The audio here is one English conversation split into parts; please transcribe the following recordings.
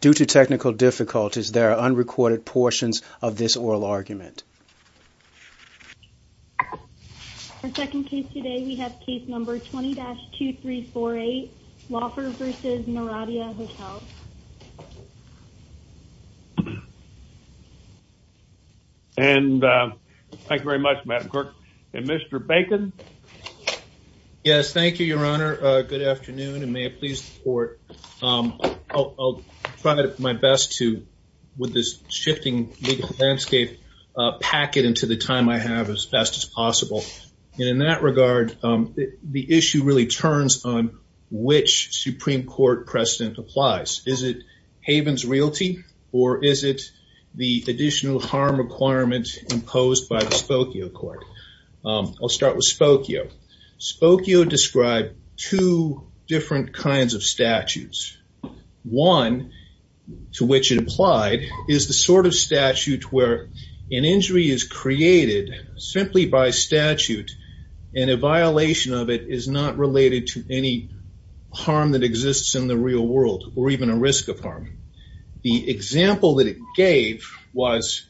Due to technical difficulties, there are unrecorded portions of this oral argument. For second case today, we have case number 20-2348 Laufer v. Naranda Hotels. And thank you very much, Madam Clerk. And Mr. Bacon? Yes, thank you, Your Honor. Good afternoon, and may it please the Court. I'll try my best to, with this shifting legal landscape, pack it into the time I have as best as possible. And in that regard, the issue really turns on which Supreme Court precedent applies. Is it Haven's realty, or is it the additional harm imposed by the Spokio Court? I'll start with Spokio. Spokio described two different kinds of statutes. One, to which it applied, is the sort of statute where an injury is created simply by statute, and a violation of it is not related to any harm that exists in the real world, or even a risk of harm. The example that it gave was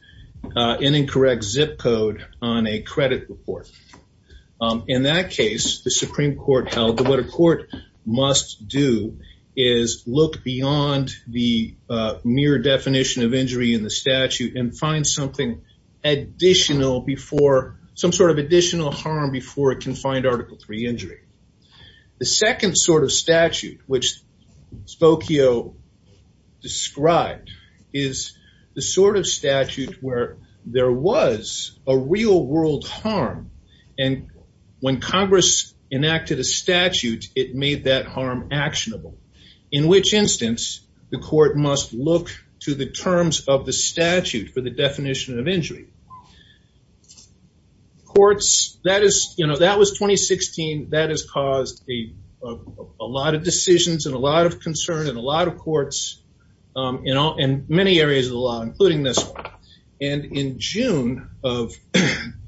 an incorrect zip code on a credit report. In that case, the Supreme Court held that what a court must do is look beyond the mere definition of injury in the statute and find something additional before, some sort of injury. What Spokio described is the sort of statute where there was a real world harm, and when Congress enacted a statute, it made that harm actionable, in which instance, the court must look to the terms of the statute for the definition of injury. Courts, that is, you know, that was 2016. That has caused a lot of decisions and a lot of concern in a lot of courts, you know, in many areas of the law, including this one. And in June of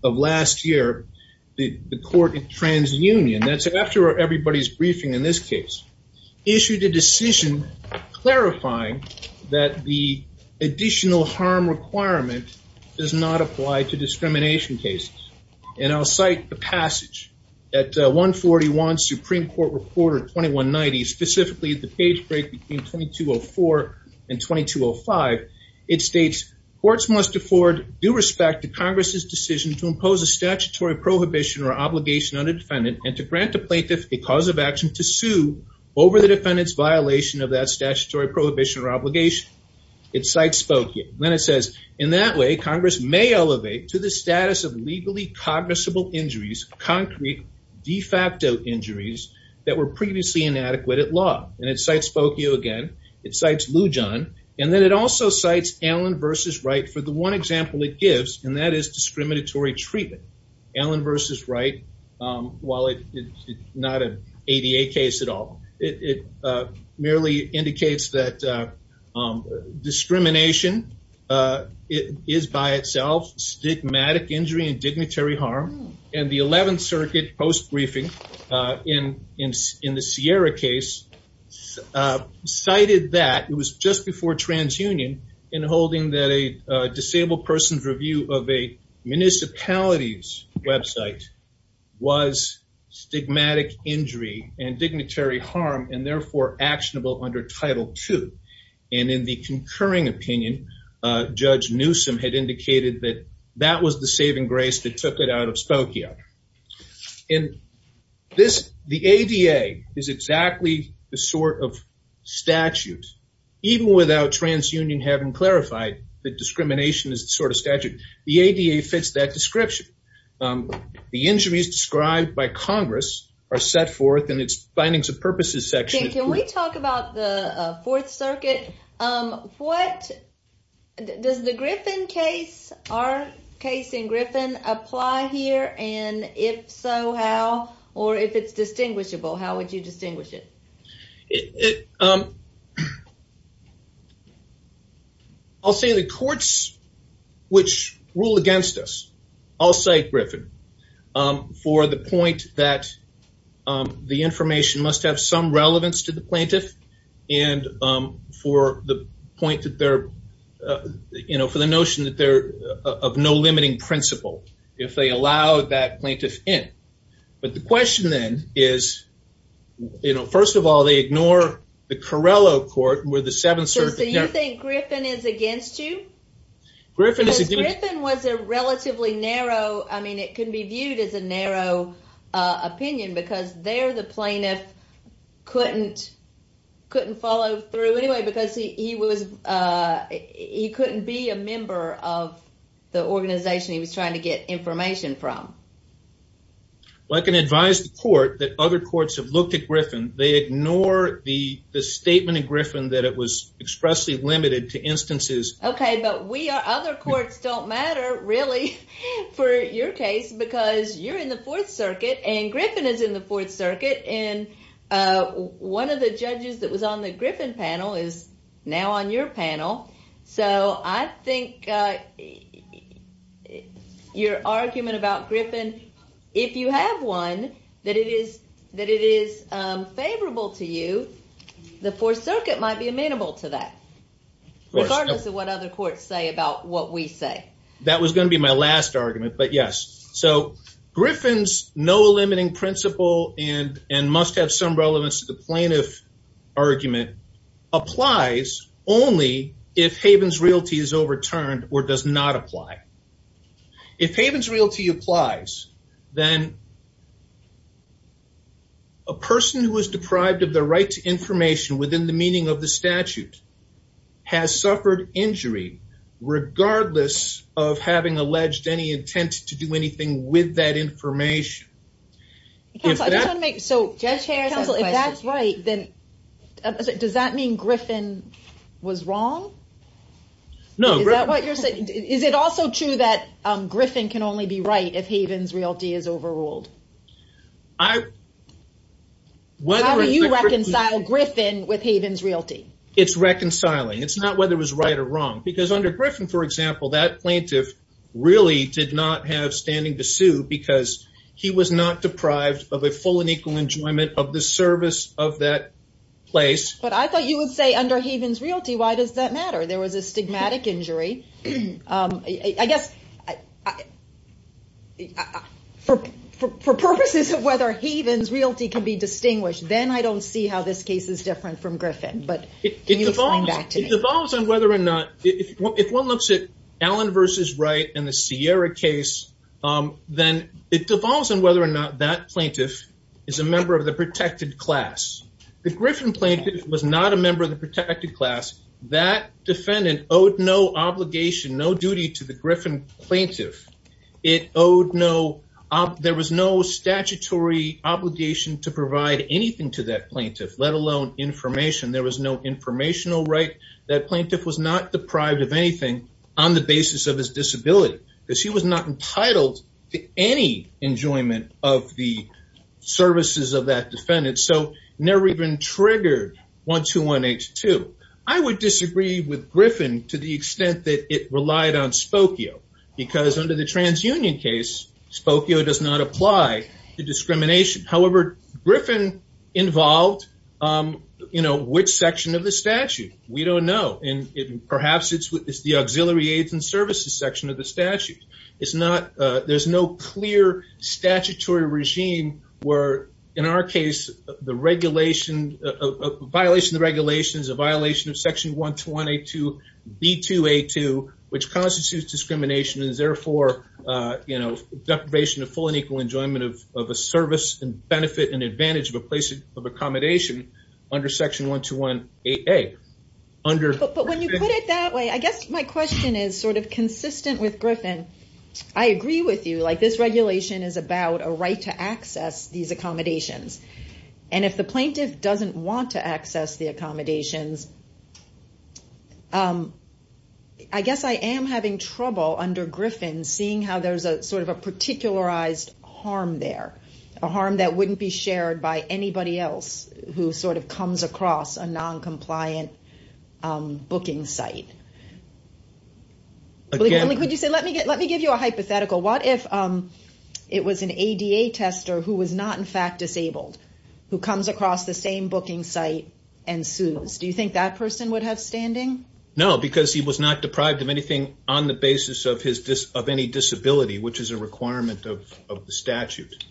last year, the court in TransUnion, that's after everybody's briefing in this case, issued a decision clarifying that the additional harm requirement does not apply to discrimination cases. And I'll cite the passage at 141 Supreme Court Reporter 2190, specifically the page break between 2204 and 2205. It states, courts must afford due respect to Congress's decision to impose a statutory prohibition or obligation on a defendant and to grant the plaintiff a cause of action to sue over the defendant's violation of that statutory prohibition or obligation. It cites Spokio. Then it says, in that way, Congress may elevate to the status of legally cognizable injuries, concrete de facto injuries that were previously inadequate at law. And it cites Spokio again. It cites Lujan. And then it also cites Allen v. Wright for the one example it gives, and that is discriminatory treatment. Allen v. Wright, while it's not an ADA case at all, it merely indicates that discrimination is by itself stigmatic injury and dignitary harm. And the 11th Circuit post-briefing in the Sierra case cited that, it was just before TransUnion, in holding that a disabled person's review of a municipality's website was stigmatic injury and dignitary harm and therefore actionable under Title II. And in the concurring opinion, Judge Newsome had indicated that that was the saving grace that took it out of Spokio. The ADA is exactly the sort of statute, even without TransUnion having clarified that discrimination is the sort of statute, the ADA fits that description. The injuries described by Congress are set forth in its Findings of Purposes section. Can we talk about the Fourth Circuit? Does the Griffin case, our case in Griffin, apply here? And if so, how? Or if it's distinguishable, how would you distinguish it? I'll say the courts which rule against us, I'll say Griffin, for the point that the information must have some relevance to the plaintiff. And for the point that they're, you know, for the notion that they're of no limiting principle, if they allow that plaintiff in. But the question then is, you know, first of all, they ignore the Carrello Court where the Seventh Circuit- So you think Griffin is against you? Griffin is- Griffin was a relatively narrow, I mean, it can be viewed as a narrow opinion, because there the plaintiff couldn't follow through anyway, because he couldn't be a member of the organization he was trying to get information from. Well, I can advise the court that other courts have looked at Griffin. They ignore the statement in Griffin that it was expressly limited to instances- Okay, but other courts don't matter, really, for your case, because you're in the Fourth Circuit, and Griffin is in the Fourth Circuit. And one of the judges that was on the Griffin panel is now on your panel. So I think your argument about Griffin, if you have one, that it is favorable to you, the Fourth Circuit might be amenable to that, regardless of what other courts say about what we say. That was going to be my last argument, but yes. So Griffin's no limiting principle and must have some relevance to the plaintiff argument applies only if Haven's Realty is overturned or does not apply. If Haven's Realty applies, then a person who is deprived of their right to information within the meaning of the statute has suffered injury, regardless of having alleged any intent to do anything with that information. So Judge Harris, if that's right, then does that mean Griffin was wrong? No. Is it also true that Griffin can only be right if Haven's Realty is overruled? How do you reconcile Griffin with Haven's Realty? It's reconciling. It's not whether it was right or wrong. Because under Griffin, for example, that plaintiff really did not have standing to sue because he was not deprived of a full and equal enjoyment of the service of that place. But I thought you would say under Haven's Realty, why does that matter? There was a stigmatic injury. I guess for purposes of whether Haven's then I don't see how this case is different from Griffin. If one looks at Allen v. Wright and the Sierra case, then it devolves on whether or not that plaintiff is a member of the protected class. The Griffin plaintiff was not a member of the protected class. That defendant owed no obligation, no duty to the Griffin plaintiff. There was no obligation to provide anything to that plaintiff, let alone information. There was no informational right. That plaintiff was not deprived of anything on the basis of his disability because he was not entitled to any enjoyment of the services of that defendant. So never even triggered 121H2. I would disagree with Griffin to the extent that it relied on Spokio because under the involved, which section of the statute? We don't know. And perhaps it's the auxiliary aids and services section of the statute. There's no clear statutory regime where in our case, violation of regulations, a violation of section 121A2, B2A2, which constitutes discrimination is therefore deprivation of full and equal enjoyment of a service and benefit and advantage of a place of accommodation under section 121AA. But when you put it that way, I guess my question is consistent with Griffin. I agree with you. This regulation is about a right to access these accommodations. And if the plaintiff doesn't want to access the accommodations, I guess I am having trouble under Griffin seeing how there's a sort of a particularized harm there, a harm that wouldn't be shared by anybody else who sort of comes across a noncompliant booking site. Again, let me give you a hypothetical. What if it was an ADA tester who was not in fact disabled, who comes across the same booking site and sues? Do you think that person would have standing? No, because he was not deprived of anything on the basis of any disability, which is a requirement of the statute.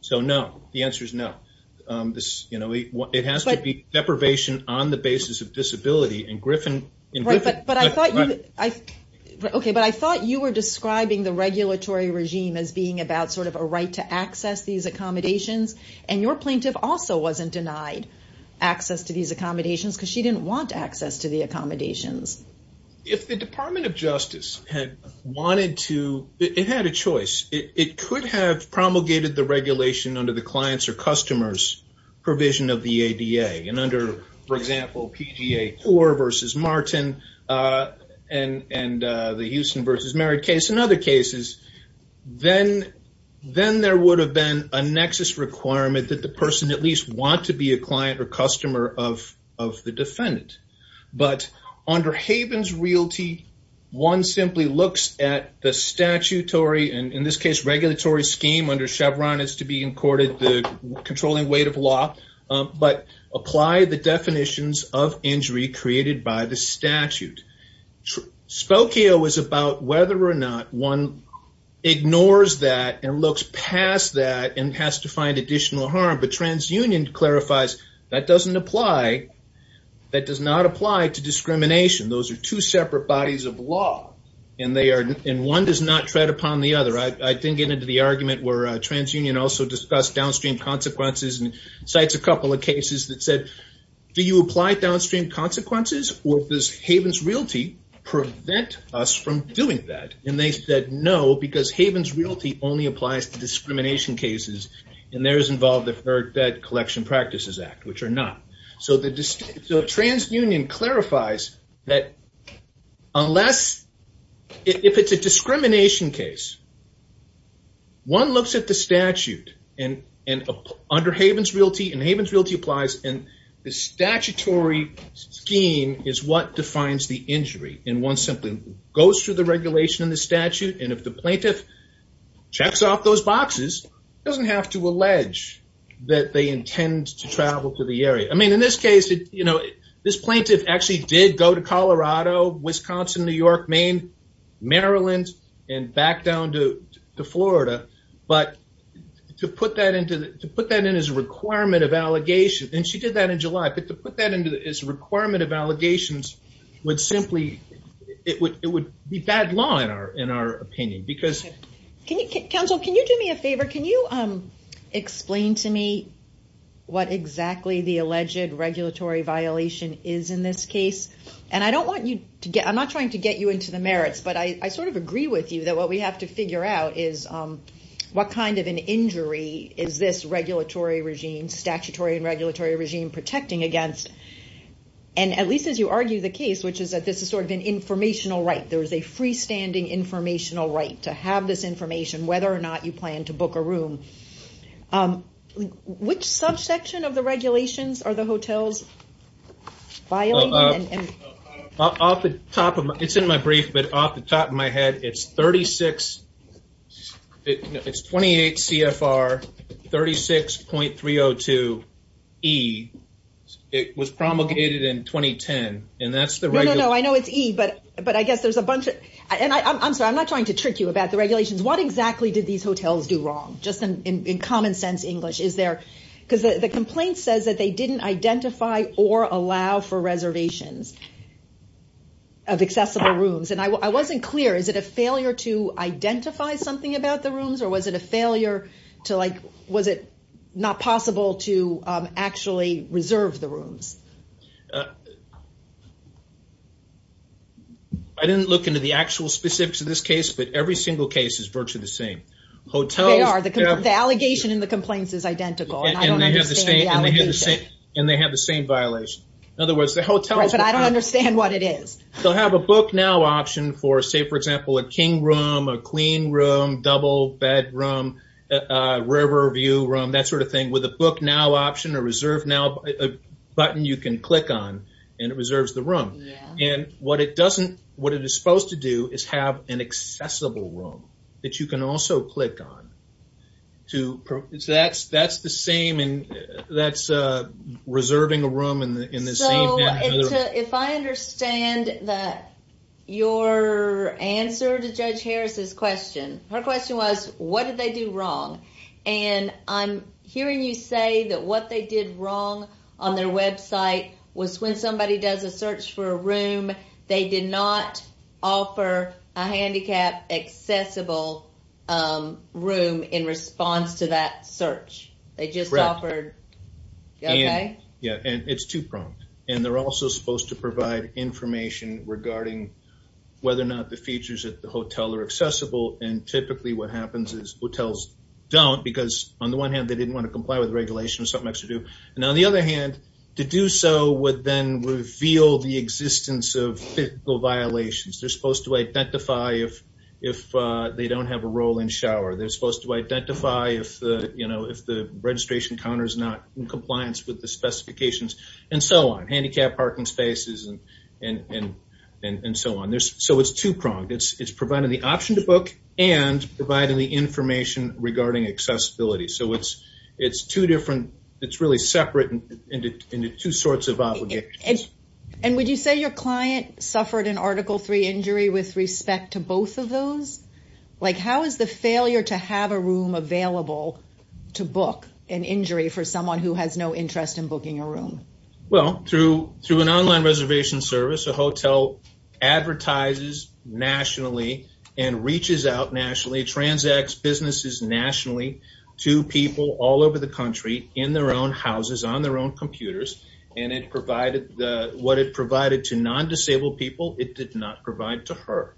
So no, the answer is no. It has to be deprivation on the basis of disability and Griffin... Right, but I thought you were describing the regulatory regime as being about sort of a right to access these accommodations. And your plaintiff also wasn't denied access to these accommodations because she didn't want access to the accommodations. If the Department of Justice had wanted to, it had a choice. It could have promulgated the regulation under the client's or customer's provision of the ADA. And under, for example, PGA 4 versus Martin and the Houston versus Merritt case and other cases, then there would have been a nexus requirement that the person at least want to be a client or customer of the defendant. But under Haven's Realty, one simply looks at the statutory, and in this case, regulatory scheme under Chevron is to be encoded the controlling weight of law, but apply the definitions of injury created by the statute. Spokio is about whether or not one ignores that and looks past that and has to find additional harm. But TransUnion clarifies that doesn't apply. That does not apply to discrimination. Those are two separate bodies of law and one does not tread upon the other. I didn't get into the argument where TransUnion also discussed downstream consequences and cites a couple of cases that said, do you apply downstream consequences or does Haven's Realty prevent us from doing that? And they said no, because Haven's Realty only applies to discrimination cases, and theirs involve the Third Bed Collection Practices Act, which are not. So TransUnion clarifies that if it's a discrimination case, one looks at the statute under Haven's Realty, and Haven's Realty applies, and the statutory scheme is what defines the injury. And one simply goes through the regulation and the statute, and if the plaintiff checks off those boxes, doesn't have to allege that they intend to travel to the area. I mean, in this case, this plaintiff actually did go to Colorado, Wisconsin, New York, Maine, Maryland, and back down to Florida. But to put that in as a requirement of allegations, and she did that in July, but to put that in as a requirement of allegations would simply, it would be bad law in our opinion. Because... What exactly the alleged regulatory violation is in this case, and I don't want you to get, I'm not trying to get you into the merits, but I sort of agree with you that what we have to figure out is what kind of an injury is this regulatory regime, statutory and regulatory regime protecting against. And at least as you argue the case, which is that this is sort of an informational right, there is a freestanding informational right to have this information, whether or not you plan to book a room. Which subsection of the regulations are the hotels violating? It's in my brief, but off the top of my head, it's 28 CFR 36.302E. It was promulgated in 2010, and that's the... No, no, no, I know it's E, but I guess there's a bunch of... What exactly did these hotels do wrong? Just in common sense English, is there... Because the complaint says that they didn't identify or allow for reservations of accessible rooms, and I wasn't clear. Is it a failure to identify something about the rooms, or was it a failure to like, was it not possible to actually reserve the rooms? I didn't look into the actual specifics of this case, but every single case is virtually the same. They are. The allegation in the complaints is identical, and I don't understand the allegation. And they have the same violation. In other words, the hotels... Right, but I don't understand what it is. They'll have a book now option for say, for example, a king room, a clean room, double bed room, river view room, that sort of thing, with a book now option, a reserve now button you can click on, and it reserves the room. Yeah. And what it doesn't... What it is supposed to do is have an accessible room that you can also click on to... That's the same... That's reserving a room in the same... So, if I understand that your answer to Judge Harris's question, her question was, what did they do wrong? And I'm hearing you say that what they did wrong on their website was when somebody does a search for a room, they did not offer a handicap accessible room in response to that search. They just offered... Correct. Okay. Yeah. And it's too prompt. And they're also supposed to provide information regarding whether or not the features at the hotel are accessible. And typically, what happens is hotels don't, because on the one hand, they didn't want to comply with regulation or something else to do. And on the other hand, to do so would then reveal the existence of physical violations. They're supposed to identify if they don't have a roll-in shower. They're supposed to identify if the registration counter is not in compliance with the specifications, and so on. Handicap parking spaces, and so on. So, it's two-pronged. It's providing the option to book and providing the information regarding accessibility. So, it's two different... It's really separate into two sorts of obligations. And would you say your client suffered an Article III injury with respect to both of those? How is the failure to have a room available to book an injury for someone who has no interest in booking a room? Well, through an online reservation service, a hotel advertises nationally and reaches out nationally, transacts businesses nationally to people all over the country in their own houses, on their own computers. And what it provided to non-disabled people, it did not provide to her.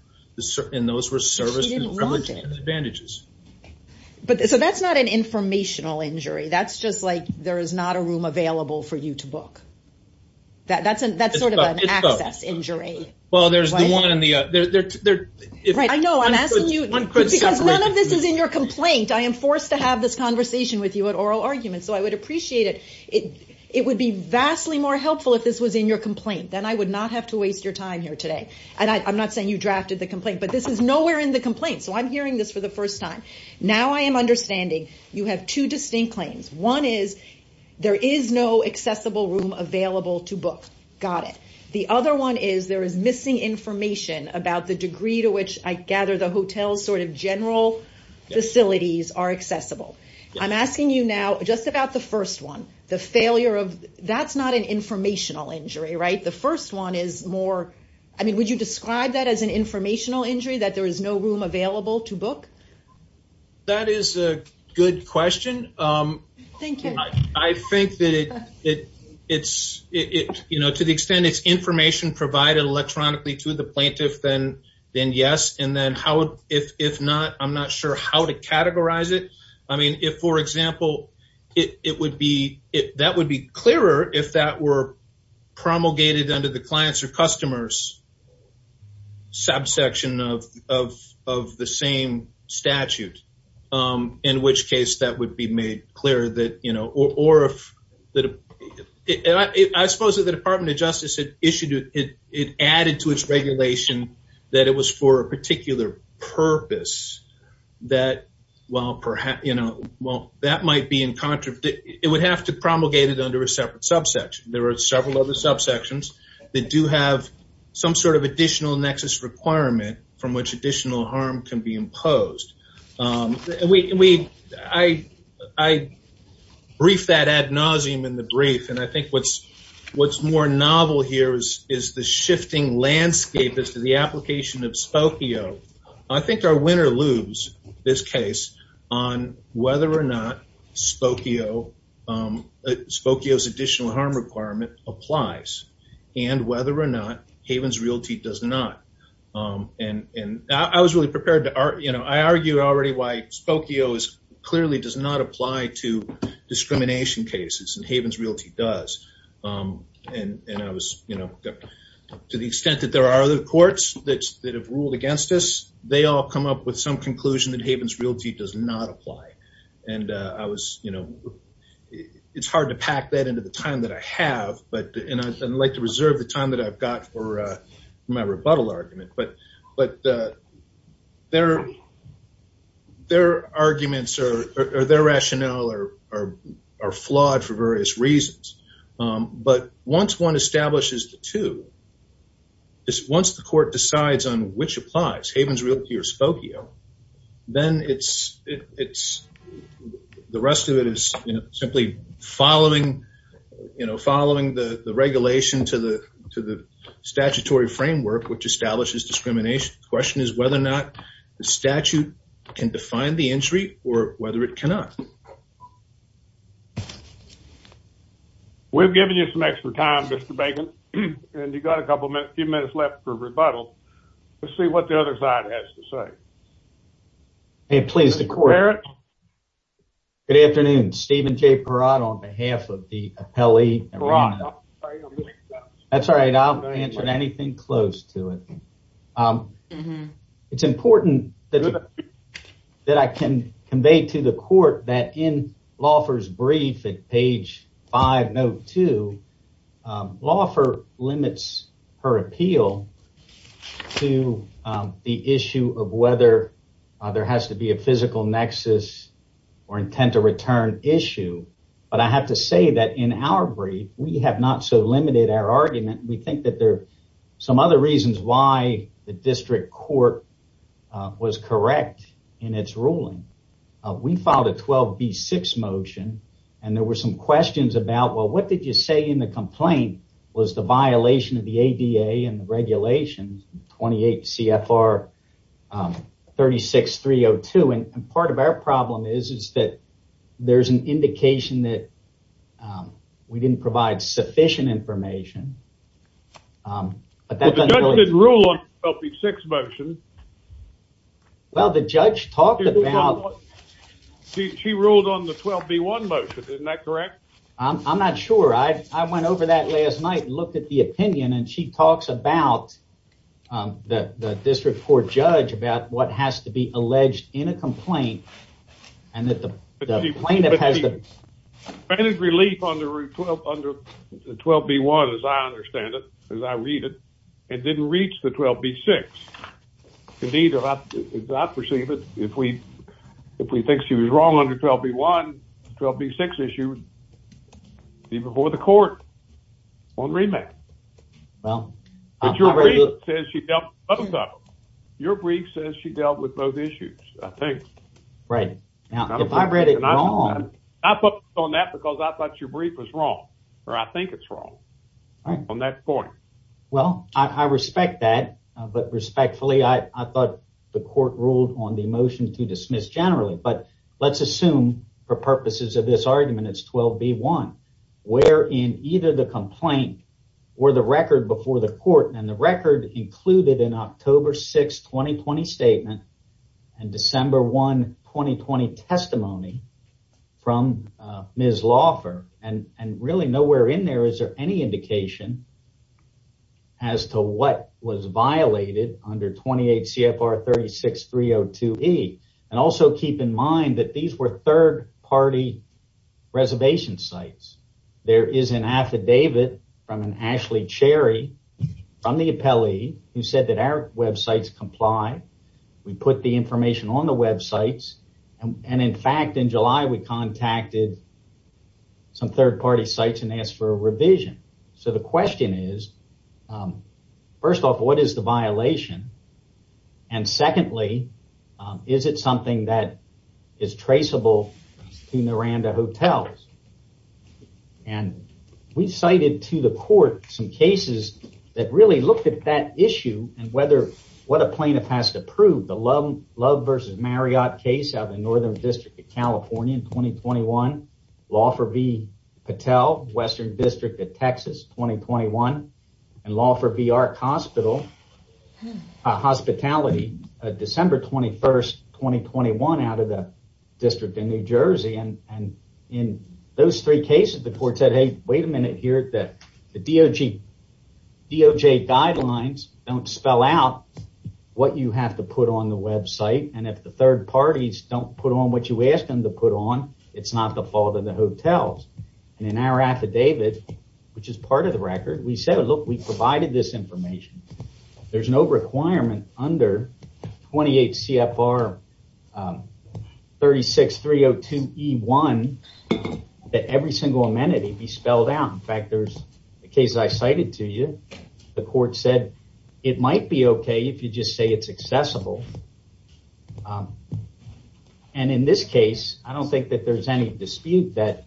And those were service advantages. So, that's not an informational injury. That's just like there is not a room available for you to book. That's sort of an access injury. Well, there's the one and the other. Right. I know. I'm asking you because none of this is in your complaint. I am forced to have this conversation with you at oral arguments. So, I would appreciate it. It would be vastly more helpful if this was in your complaint. Then I would not have to waste your time here today. And I'm not saying you drafted the complaint, but this is nowhere in the complaint. So, I'm hearing this for the first time. Now, I am understanding you have two distinct claims. One is there is no accessible room available to book. Got it. The other one is there is missing information about the degree to which I gather the hotel's sort of general facilities are accessible. I'm asking you now just about the first one, the failure of... That's not an informational injury, right? The first one is more... I mean, would you describe that as an informational injury that there is no room available to book? That is a good question. Thank you. I think that it's... To the extent it's information provided electronically to the plaintiff, then yes. And then how, if not, I'm not sure how to categorize it. I mean, if for example, that would be clearer if that were promulgated under the statute, in which case that would be made clear that... Or if... I suppose that the Department of Justice had issued it, it added to its regulation that it was for a particular purpose that, well, that might be in contra... It would have to promulgate it under a separate subsection. There are several other subsections that do have some sort of additional nexus requirement from which additional harm can be imposed. I briefed that ad nauseum in the brief, and I think what's more novel here is the shifting landscape as to the application of Spokio. I think our winner looms, this case, on whether or not Spokio's additional harm requirement applies, and whether or not Havens Realty does not. And I was really prepared to... I argue already why Spokio clearly does not apply to discrimination cases, and Havens Realty does. And I was... To the extent that there are other courts that have ruled against us, they all come up with some conclusion that Havens Realty does not apply. And I was... It's hard to pack that into the time that I have, and I'd like to reserve the time that I've got for my rebuttal argument. But their arguments or their rationale are flawed for various reasons. But once one establishes the two, once the court decides on which applies, Havens Realty or Spokio, then it's... Following the regulation to the statutory framework which establishes discrimination, the question is whether or not the statute can define the injury or whether it cannot. We've given you some extra time, Mr. Bacon, and you've got a couple minutes, a few minutes left for rebuttal. Let's see what the other side has to say. Hey, please, the court... Good afternoon. Stephen J. Perot on behalf of the appellee. That's all right. I'll answer anything close to it. It's important that I can convey to the court that in Lawford's brief at page 502, Lawford limits her appeal to the issue of whether there has to be a physical nexus or intent to return issue. But I have to say that in our brief, we have not so limited our argument. We think that there are some other reasons why the district court was correct in its ruling. We filed a 12B6 motion, and there were some questions about, well, what did you say in the complaint was the violation of the ADA and the regulations, 28 CFR 36302, and part of our problem is that there's an indication that we didn't provide sufficient information. But the judge did rule on the 12B6 motion. Well, the judge talked about... She ruled on the 12B1 motion. Isn't that correct? I'm not sure. I went over that last night and looked at the opinion, and she talks about the district court judge about what has to be alleged in a complaint, and that the plaintiff has relief on the 12B1, as I understand it, as I read it. It didn't reach the 12B6. Indeed, if I perceive it, if we think she was wrong on the 12B1, 12B6 issue, it would be before the court on remand. Your brief says she dealt with both issues, I think. Right. Now, if I read it wrong... Not on that, because I thought your brief was wrong, or I think it's wrong, on that point. Well, I respect that, but respectfully, I thought the court ruled on the motion to dismiss generally. But let's assume, for purposes of this argument, it's 12B1, where in either the complaint or the record before the 2020 testimony from Ms. Laufer, and really nowhere in there is there any indication as to what was violated under 28 CFR 36-302E. Also, keep in mind that these were third-party reservation sites. There is an affidavit from Ashley Cherry, from the appellee, who said that our websites comply. We put the information on the websites, and in fact, in July, we contacted some third-party sites and asked for a revision. The question is, first off, what is the violation? Secondly, is it something that is traceable to Miranda Hotels? And we cited to the court some cases that really looked at that issue and whether what a plaintiff has to prove. The Love v. Marriott case out of the Northern District of California in 2021, Laufer v. Patel, Western District of Texas, 2021, and Laufer v. Ark Hospital, December 21, 2021, out of the District of New Jersey. In those three cases, the court said, hey, wait a minute here. The DOJ guidelines don't spell out what you have to put on the website, and if the third parties don't put on what you asked them to put on, it's not the fault of the hotels. In our affidavit, which is part of the record, we said, look, we provided this information. There's no requirement under 28 CFR 36302E1 that every single amenity be spelled out. In fact, there's a case I cited to you. The court said it might be okay if you just say it's accessible, and in this case, I don't think that there's any dispute that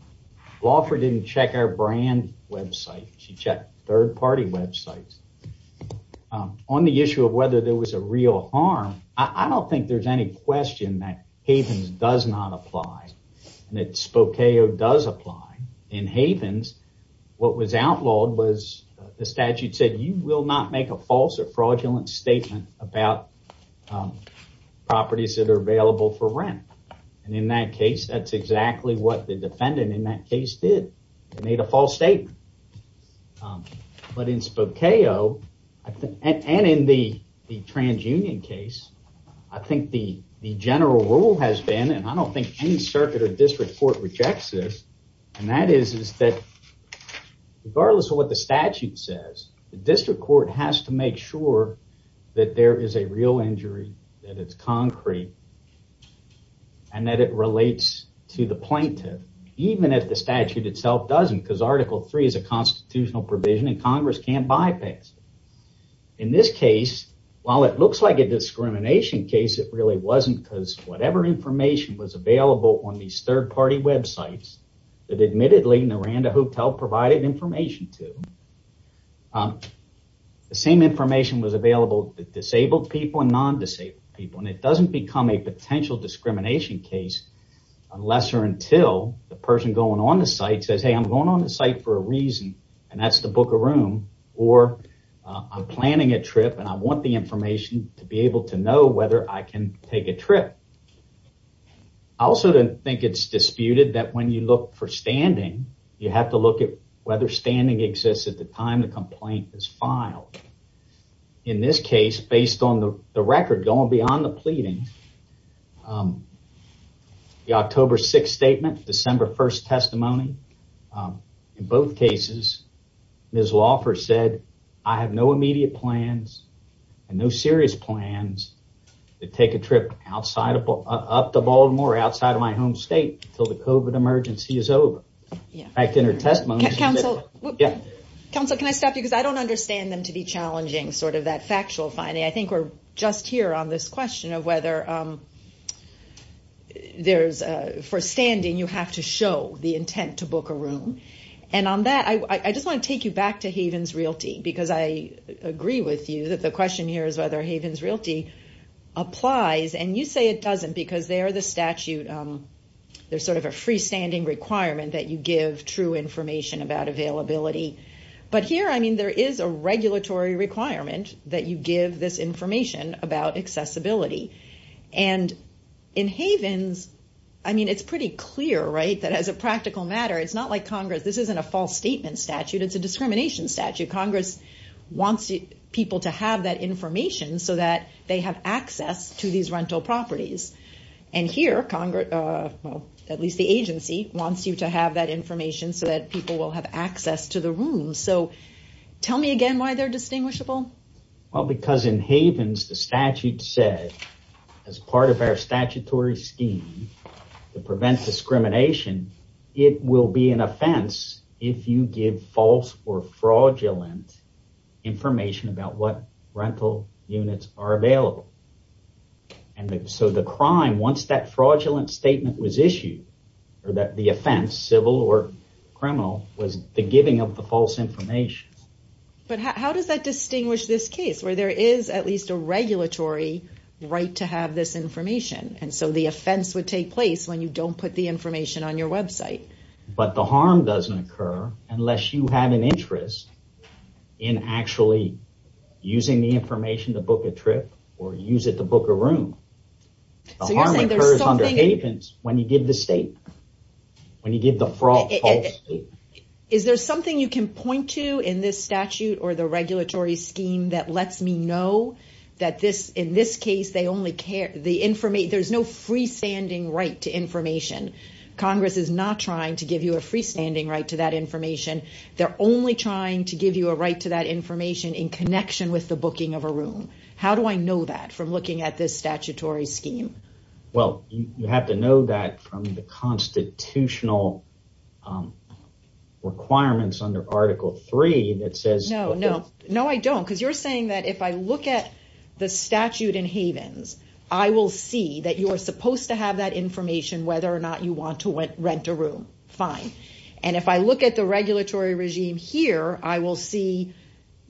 Laufer didn't check our on the issue of whether there was a real harm. I don't think there's any question that Havens does not apply and that Spokeo does apply. In Havens, what was outlawed was the statute said you will not make a false or fraudulent statement about properties that are available for rent, and in that case, that's exactly what the defendant in that case did. They made a false statement, but in Spokeo and in the transunion case, I think the general rule has been, and I don't think any circuit or district court rejects this, and that is that regardless of what the statute says, the district court has to make sure that there is a real harm. Article 3 is a constitutional provision and Congress can't bypass it. In this case, while it looks like a discrimination case, it really wasn't because whatever information was available on these third-party websites that admittedly Miranda Hotel provided information to, the same information was available to disabled people and non-disabled people, and it doesn't become a potential discrimination case unless or until the person going on the site says, hey, I'm going on the site for a reason, and that's the book of room, or I'm planning a trip and I want the information to be able to know whether I can take a trip. I also don't think it's disputed that when you look for standing, you have to look at whether standing exists at the time the complaint is filed. In this case, based on the record going beyond the pleading, the October 6th statement, December 1st testimony, in both cases, Ms. Wofford said, I have no immediate plans and no serious plans to take a trip up to Baltimore, outside of my home state, until the COVID emergency is over. In fact, in her testimony... Counsel, can I stop you? Because I don't understand them to be challenging sort of that factual finding. I think we're just here on this question of whether for standing, you have to show the intent to book a room. And on that, I just want to take you back to Havens Realty, because I agree with you that the question here is whether Havens Realty applies. And you say it doesn't, because they are the statute, they're sort of a freestanding requirement that you give true information about availability. But here, I mean, there is a regulatory requirement that you give this information about accessibility. And in Havens, I mean, it's pretty clear, right? That as a practical matter, it's not like Congress, this isn't a false statement statute, it's a discrimination statute. Congress wants people to have that information so that they have access to these rental properties. And here, well, at least the agency wants you to have that information so that people will have access to the room. So tell me again why they're distinguishable? Well, because in Havens, the statute said, as part of our statutory scheme to prevent discrimination, it will be an offense if you give false or fraudulent information about what rental units are available. And so the crime, once that fraudulent statement was issued, or that the offense, civil or criminal, was the giving of the false information. But how does that distinguish this case, where there is at least a regulatory right to have this information? And so the offense would take place when you don't put the information on your website. But the harm doesn't occur unless you have an interest in actually using the information to book a trip, or use it to book a room. So you're saying there's something... The harm occurs under Havens when you give the statement, when you give the false statement. Is there something you can point to in this statute, or the regulatory scheme, that lets me know that in this case there's no freestanding right to information? Congress is not trying to give you a freestanding right to that information. They're only trying to give you a right to that information in connection with the booking of a room. How do I know that from looking at this statutory scheme? Well, you have to know that from the constitutional requirements under Article 3 that says... No, no. No, I don't. Because you're saying that if I look at the statute in Havens, I will see that you are supposed to have that information whether or not you want to rent a room. Fine. And if I look at the regulatory regime here, I will see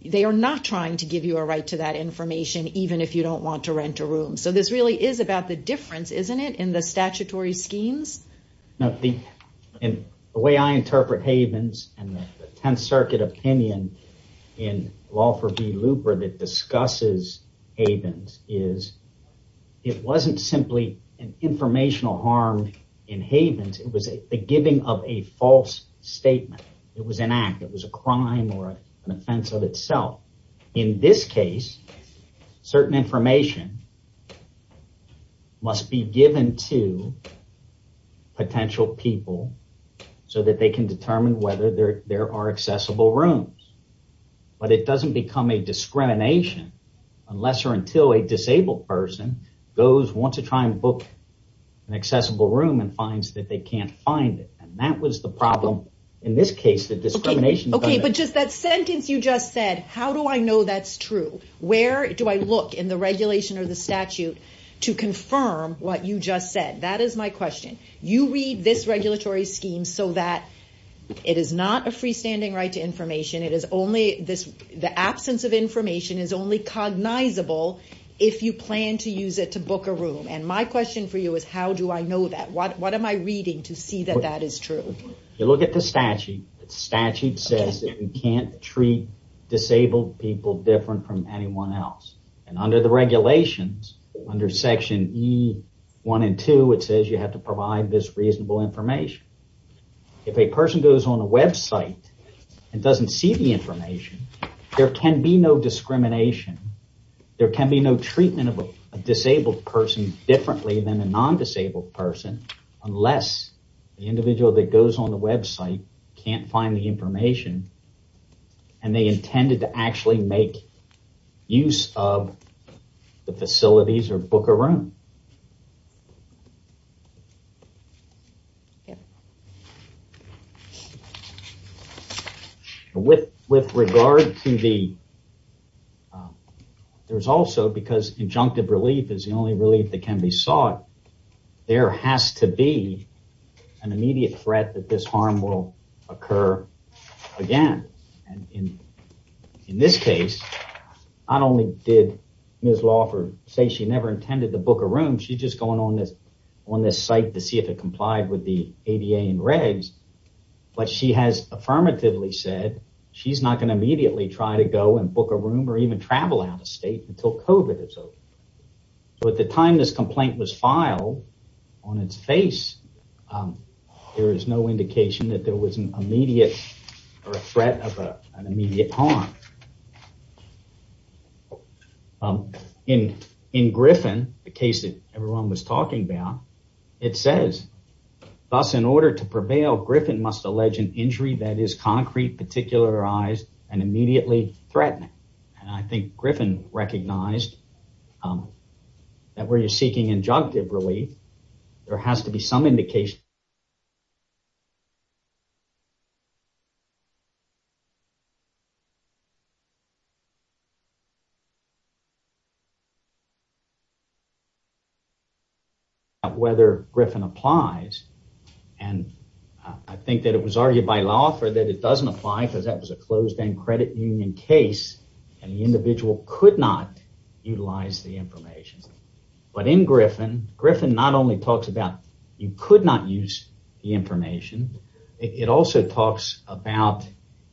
they are not trying to give you a right to that information, even if you don't want to rent a room. So this really is about the difference, isn't it, in the statutory schemes? The way I interpret Havens and the 10th Circuit opinion in law for the looper that discusses Havens is it wasn't simply an informational harm in Havens. It was a giving of a false statement. It was an act. It was a crime or an offense of In this case, certain information must be given to potential people so that they can determine whether there are accessible rooms. But it doesn't become a discrimination unless or until a disabled person goes, wants to try and book an accessible room and finds that they can't find it. And that the problem in this case, the discrimination. Okay. But just that sentence you just said, how do I know that's true? Where do I look in the regulation or the statute to confirm what you just said? That is my question. You read this regulatory scheme so that it is not a freestanding right to information. The absence of information is only cognizable if you plan to use it to book a room. And my question for you is how do I know that? What you look at the statute, the statute says that you can't treat disabled people different from anyone else. And under the regulations, under section E1 and 2, it says you have to provide this reasonable information. If a person goes on a website and doesn't see the information, there can be no discrimination. There can be no treatment of a disabled person differently than a non-disabled person unless the individual that goes on the website can't find the information and they intended to actually make use of the facilities or book a room. With regard to the, there's also, because injunctive relief is the only relief that there has to be an immediate threat that this harm will occur again. In this case, not only did Ms. Lawford say she never intended to book a room, she's just going on this site to see if it complied with the ADA and regs, but she has affirmatively said she's not going to immediately try to go and book a room or even travel out of state until COVID is over. So at the time this complaint was filed, on its face, there is no indication that there was an immediate or a threat of an immediate harm. In Griffin, the case that everyone was talking about, it says, thus in order to prevail, Griffin must allege an injury that is concrete, particularized, and immediately threatening. And I think Griffin recognized that where you're seeking injunctive relief, there has to be some indication that there is an injury that is concrete, particularized, and immediately threatening. Whether Griffin applies, and I think that it was argued by Lawford that it doesn't apply because that was a closed-end credit union case, and the individual could not utilize the information. But in Griffin, Griffin not only talks about you could not use the information, it also talks about,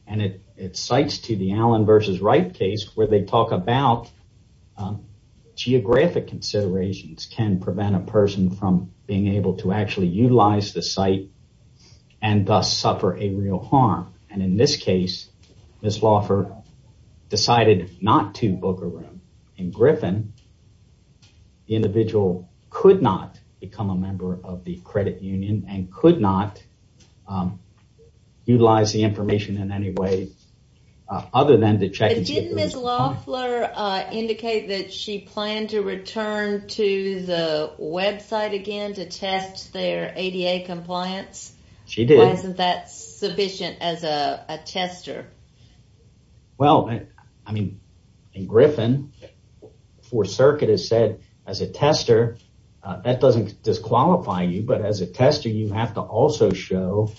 and it cites to the Allen v. Wright case where they talk about geographic considerations can prevent a person from being able to actually utilize the site and thus suffer a real harm. And in this case, Ms. Lawford decided not to book a room. In Griffin, the individual could not become a member of the credit union and could not utilize the information in any way other than to check. Did Ms. Lawford indicate that she planned to return to the website again to test their ADA compliance? She did. Why isn't that sufficient as a tester? Well, I mean, in Griffin, the Fourth Circuit has said, as a tester, that doesn't disqualify you, but as a tester, you have to also show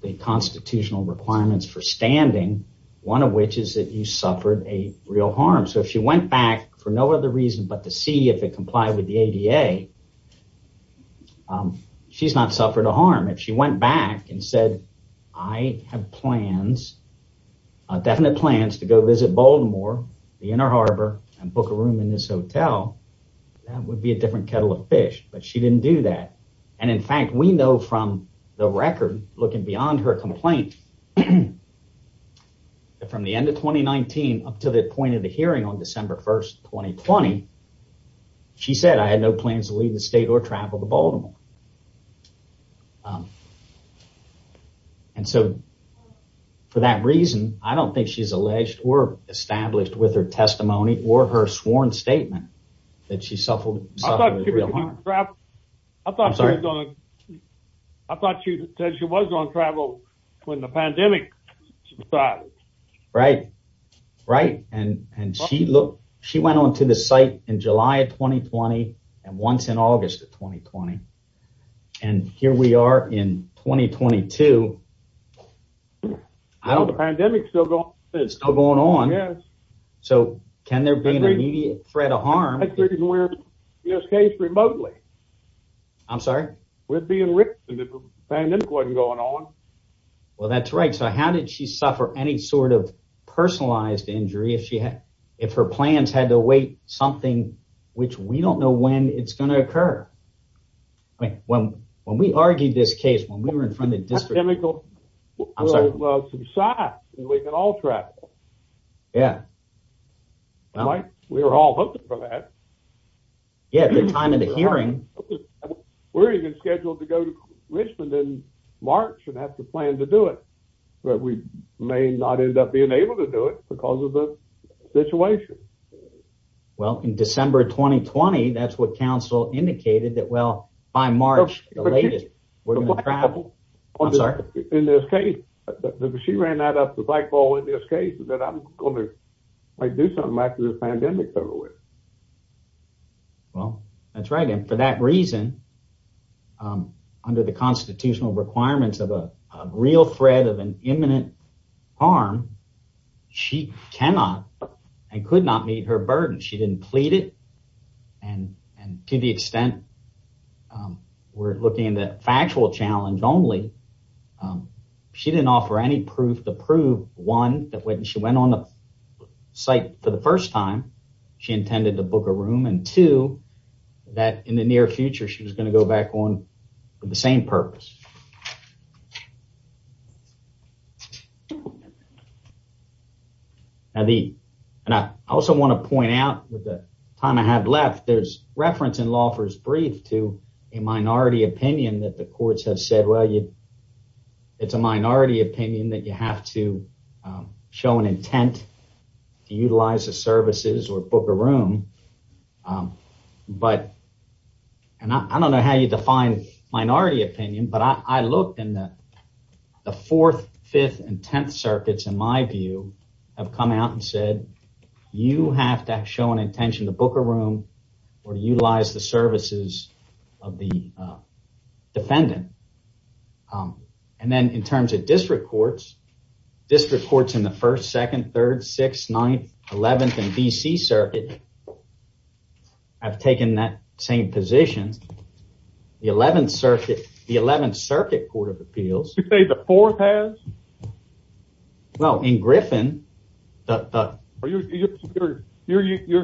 the constitutional requirements for standing, one of which is that you suffered a real harm. So, if she went back for no other reason but to see if it complied with the ADA, she's not suffered a harm. If she went back and said, I have plans, definite plans to go visit Baltimore, the Inner Harbor, and book a room in this hotel, that would be a different kettle of fish, but she didn't do that. And in fact, we know from the record, looking beyond her complaint, from the end of 2019 up to the point of the hearing on December 1st, 2020, she said, I had no plans to leave the state or travel to Baltimore. And so, for that reason, I don't think she's alleged or established with her testimony or her sworn statement that she suffered real harm. I thought she said she was going to travel when the pandemic started. Right, right. And she went on to the site in July of 2020 and once in August of 2020. And here we are in 2022. Well, the pandemic's still going on. It's still going on. Yes. So, can there be an immediate threat of harm? I think we're, in this case, remotely. I'm sorry? We're being ripped. The pandemic wasn't going on. Well, that's right. So, how did she suffer any sort of personalized injury if her plans had to await something, which we don't know when it's going to occur? I mean, when we argued this case, when we were in front of the district. I'm sorry? We can all travel. Yeah. We were all hoping for that. Yeah, at the time of the hearing. We're even scheduled to go to Richmond in March and have to plan to do it. But we may not end up being able to do it because of the situation. Well, in December 2020, that's what council indicated that, well, by March, the latest, we're going to travel. I'm sorry? In this case, she ran that up the pikeball in this case that I'm going to do something after this pandemic. Well, that's right. And for that reason, under the constitutional requirements of a real threat of an imminent harm, she cannot and could not meet her burden. She didn't plead it. And to the extent we're looking at a factual challenge only, she didn't offer any proof to prove, one, that when she went on the site for the first time, she intended to book a room. And two, that in the near future, she was going to go back on for the same purpose. Now, I also want to point out, with the time I have left, there's reference in Laufer's brief to a minority opinion that the courts have said, well, it's a minority opinion that you have to show an intent to utilize the services or book a room. But I don't know how you define minority opinion, but I looked in the fourth, fifth, and tenth circuits, in my view, have come out and said, you have to show an intention to book a room or utilize the services of the defendant. And then in terms of district courts, district courts in the first, second, third, sixth, ninth, eleventh, and D.C. circuit have taken that same position. The eleventh circuit court of appeals. You say the fourth has? No, in Griffin. You're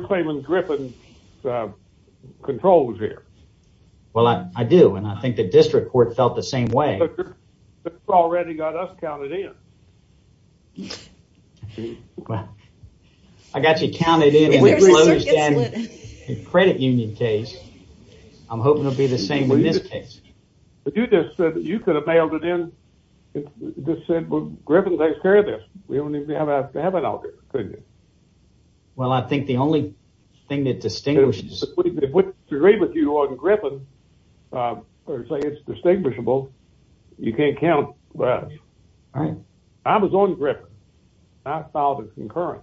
claiming Griffin controls here. Well, I do, and I think the district court felt the same way. It's already got us counted in. I got you counted in in the credit union case. I'm hoping it'll be the same in this case. You could have mailed it in and just said, well, Griffin takes care of this. We don't even have to have it out there, could you? Well, I think the only thing that distinguishes... It's distinguishable. You can't count us. I was on Griffin. I filed a concurrent.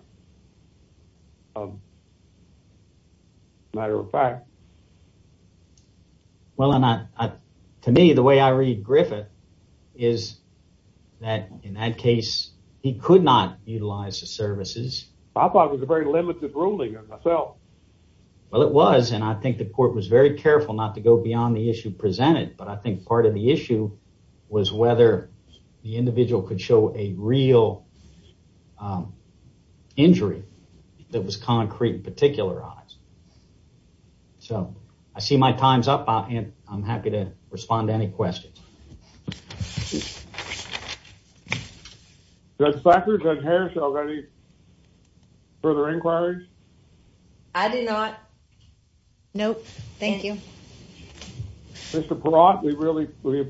Matter of fact. Well, and to me, the way I read Griffin is that in that case, he could not utilize the services. I thought it was a very limited ruling on myself. Well, it was, and I think the court was very careful not to go beyond the issue presented, but I think part of the issue was whether the individual could show a real injury that was concrete, particularized. So I see my time's up, and I'm happy to respond to any questions. Judge Sackler, Judge Harris, do you have any further inquiries? I do not. Nope. Thank you. Mr. Perot, we really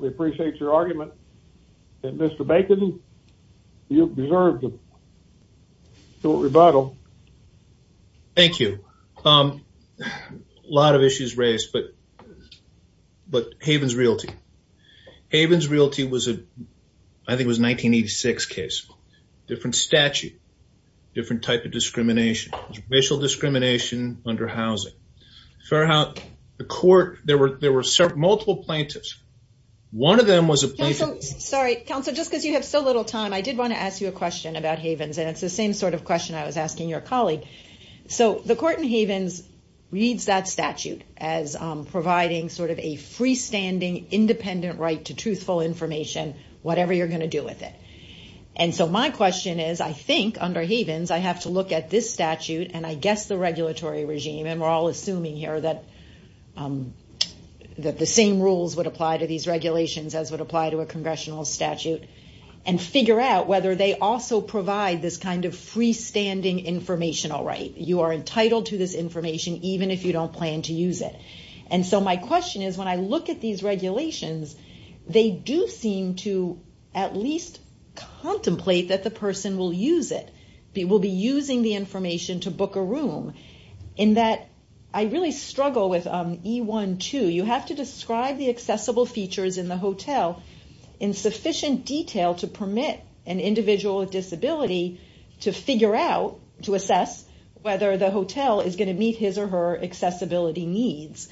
appreciate your argument. Mr. Bacon, you deserve the short rebuttal. Thank you. A lot of issues raised, but Haven's realty. Haven's realty was a, I think it was a 1986 case. Different statute, different type of discrimination, racial discrimination under housing. Fair housing, the court, there were multiple plaintiffs. One of them was a plaintiff... Sorry, counsel, just because you have so little time, I did want to ask you a question about Haven's, and it's the same sort of question I was asking your colleague. So the court in Haven's reads that statute as providing sort of a freestanding, independent right to truthful information, whatever you're going to do with it. And so my question is, I think under Haven's, I have to look at this statute and I guess the regulatory regime, and we're all assuming here that the same rules would apply to these regulations as would apply to a congressional statute, and figure out whether they also provide this kind of freestanding informational right. You are entitled to this information, even if you don't plan to use it. And so my question is, when I look at these regulations, they do seem to at least contemplate that the person will use it, will be using the information to book a room, in that I really struggle with E-1-2. You have to describe the accessible features in the hotel in sufficient detail to permit an individual with disability to figure out, to assess whether the hotel is going to meet his or her accessibility needs,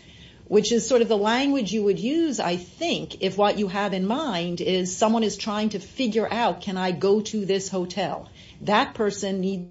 which is sort of the language you would use, I think, if what you have in mind is someone is trying to figure out, can I go to this hotel? That person needs...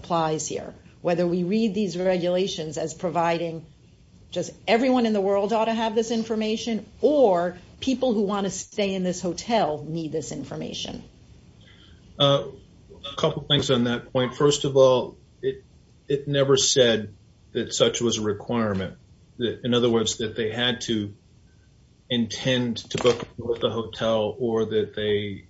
...applies here, whether we read these regulations as providing just everyone in the world ought to have this information, or people who want to stay in this hotel need this information. A couple things on that point. First of all, it never said that such was a requirement. In other words, that they had to intend to book a hotel or that they...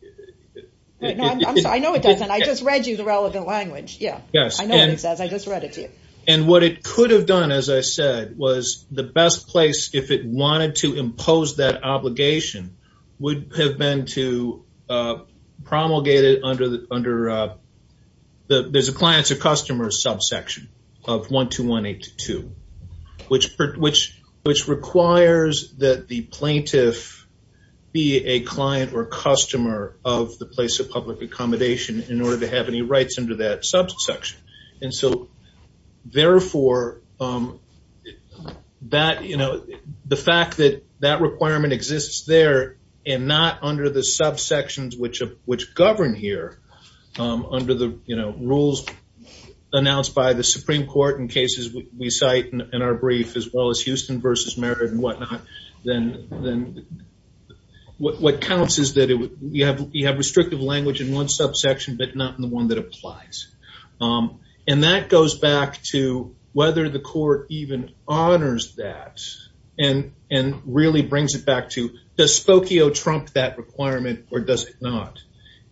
I know it doesn't. I just read you the relevant language. Yeah. Yes. I know what it says. I just read it to you. And what it could have done, as I said, was the best place if it wanted to impose that obligation would have been to promulgate it under... There's a client-to-customer subsection of 12182, which requires that the plaintiff be a client or a customer of the place of public accommodation in order to have any rights under that subsection. And so, therefore, the fact that that requirement exists there and not under the subsections which govern here under the rules announced by the Supreme Court in cases we cite in our brief, as well as Houston versus Merritt and whatnot, then what counts is that you have restrictive language in one subsection, but not in the one that applies. And that goes back to whether the court even honors that and really brings it back to does Spokio trump that requirement or does it not?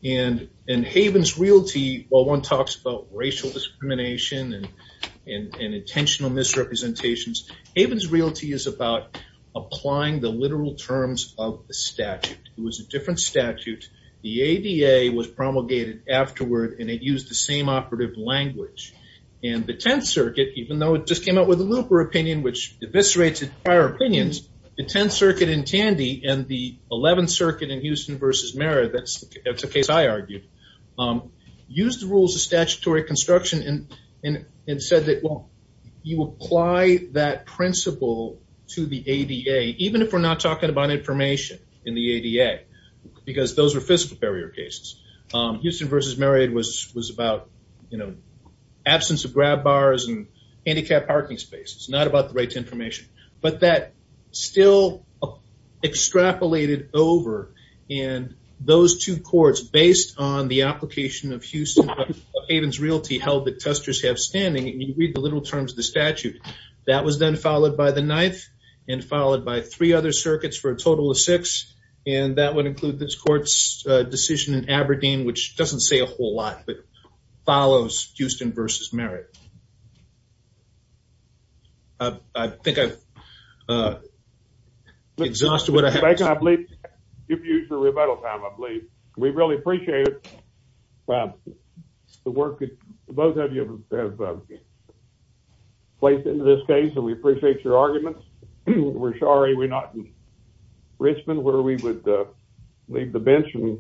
And in Haven's Realty, while one talks about racial discrimination and intentional misrepresentations, Haven's Realty is about applying the literal terms of the statute. It was a different statute. The ADA was promulgated afterward, and it used the same operative language. And the 10th Circuit, even though it just came out with a looper opinion, which eviscerates its prior opinions, the 10th Circuit in Tandy and the 11th Circuit in Houston versus Merritt, that's the case I argued, used the rules of statutory construction and said that, well, you apply that principle to the ADA, even if we're not talking about information in the ADA, because those are fiscal barrier cases. Houston versus Merritt was about absence of grab bars and handicapped parking spaces, not about the right to information. But that still extrapolated over in those two courts based on the application of Houston Haven's Realty held that testers have standing. And you read the literal terms of the statute. That was then followed by the 9th and followed by three other circuits for a total of six. And that would include this court's decision in Aberdeen, which doesn't say a whole lot, but follows Houston versus Merritt. I think I've exhausted what I have. Give you the rebuttal time, I believe. We really appreciate it. The work that both of you have placed into this case, and we appreciate your arguments. We're sorry we're not in Richmond, where we would leave the bench and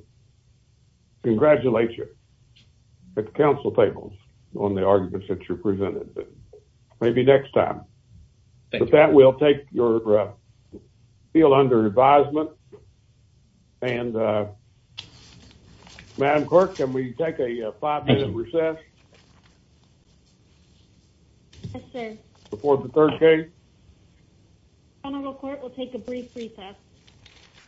congratulate you at the council tables on the arguments that you presented. Maybe next time. But that will take your feel under advisement. And Madam Clerk, can we take a five minute recess? Yes, sir. Before the third case. Honorable court will take a brief recess.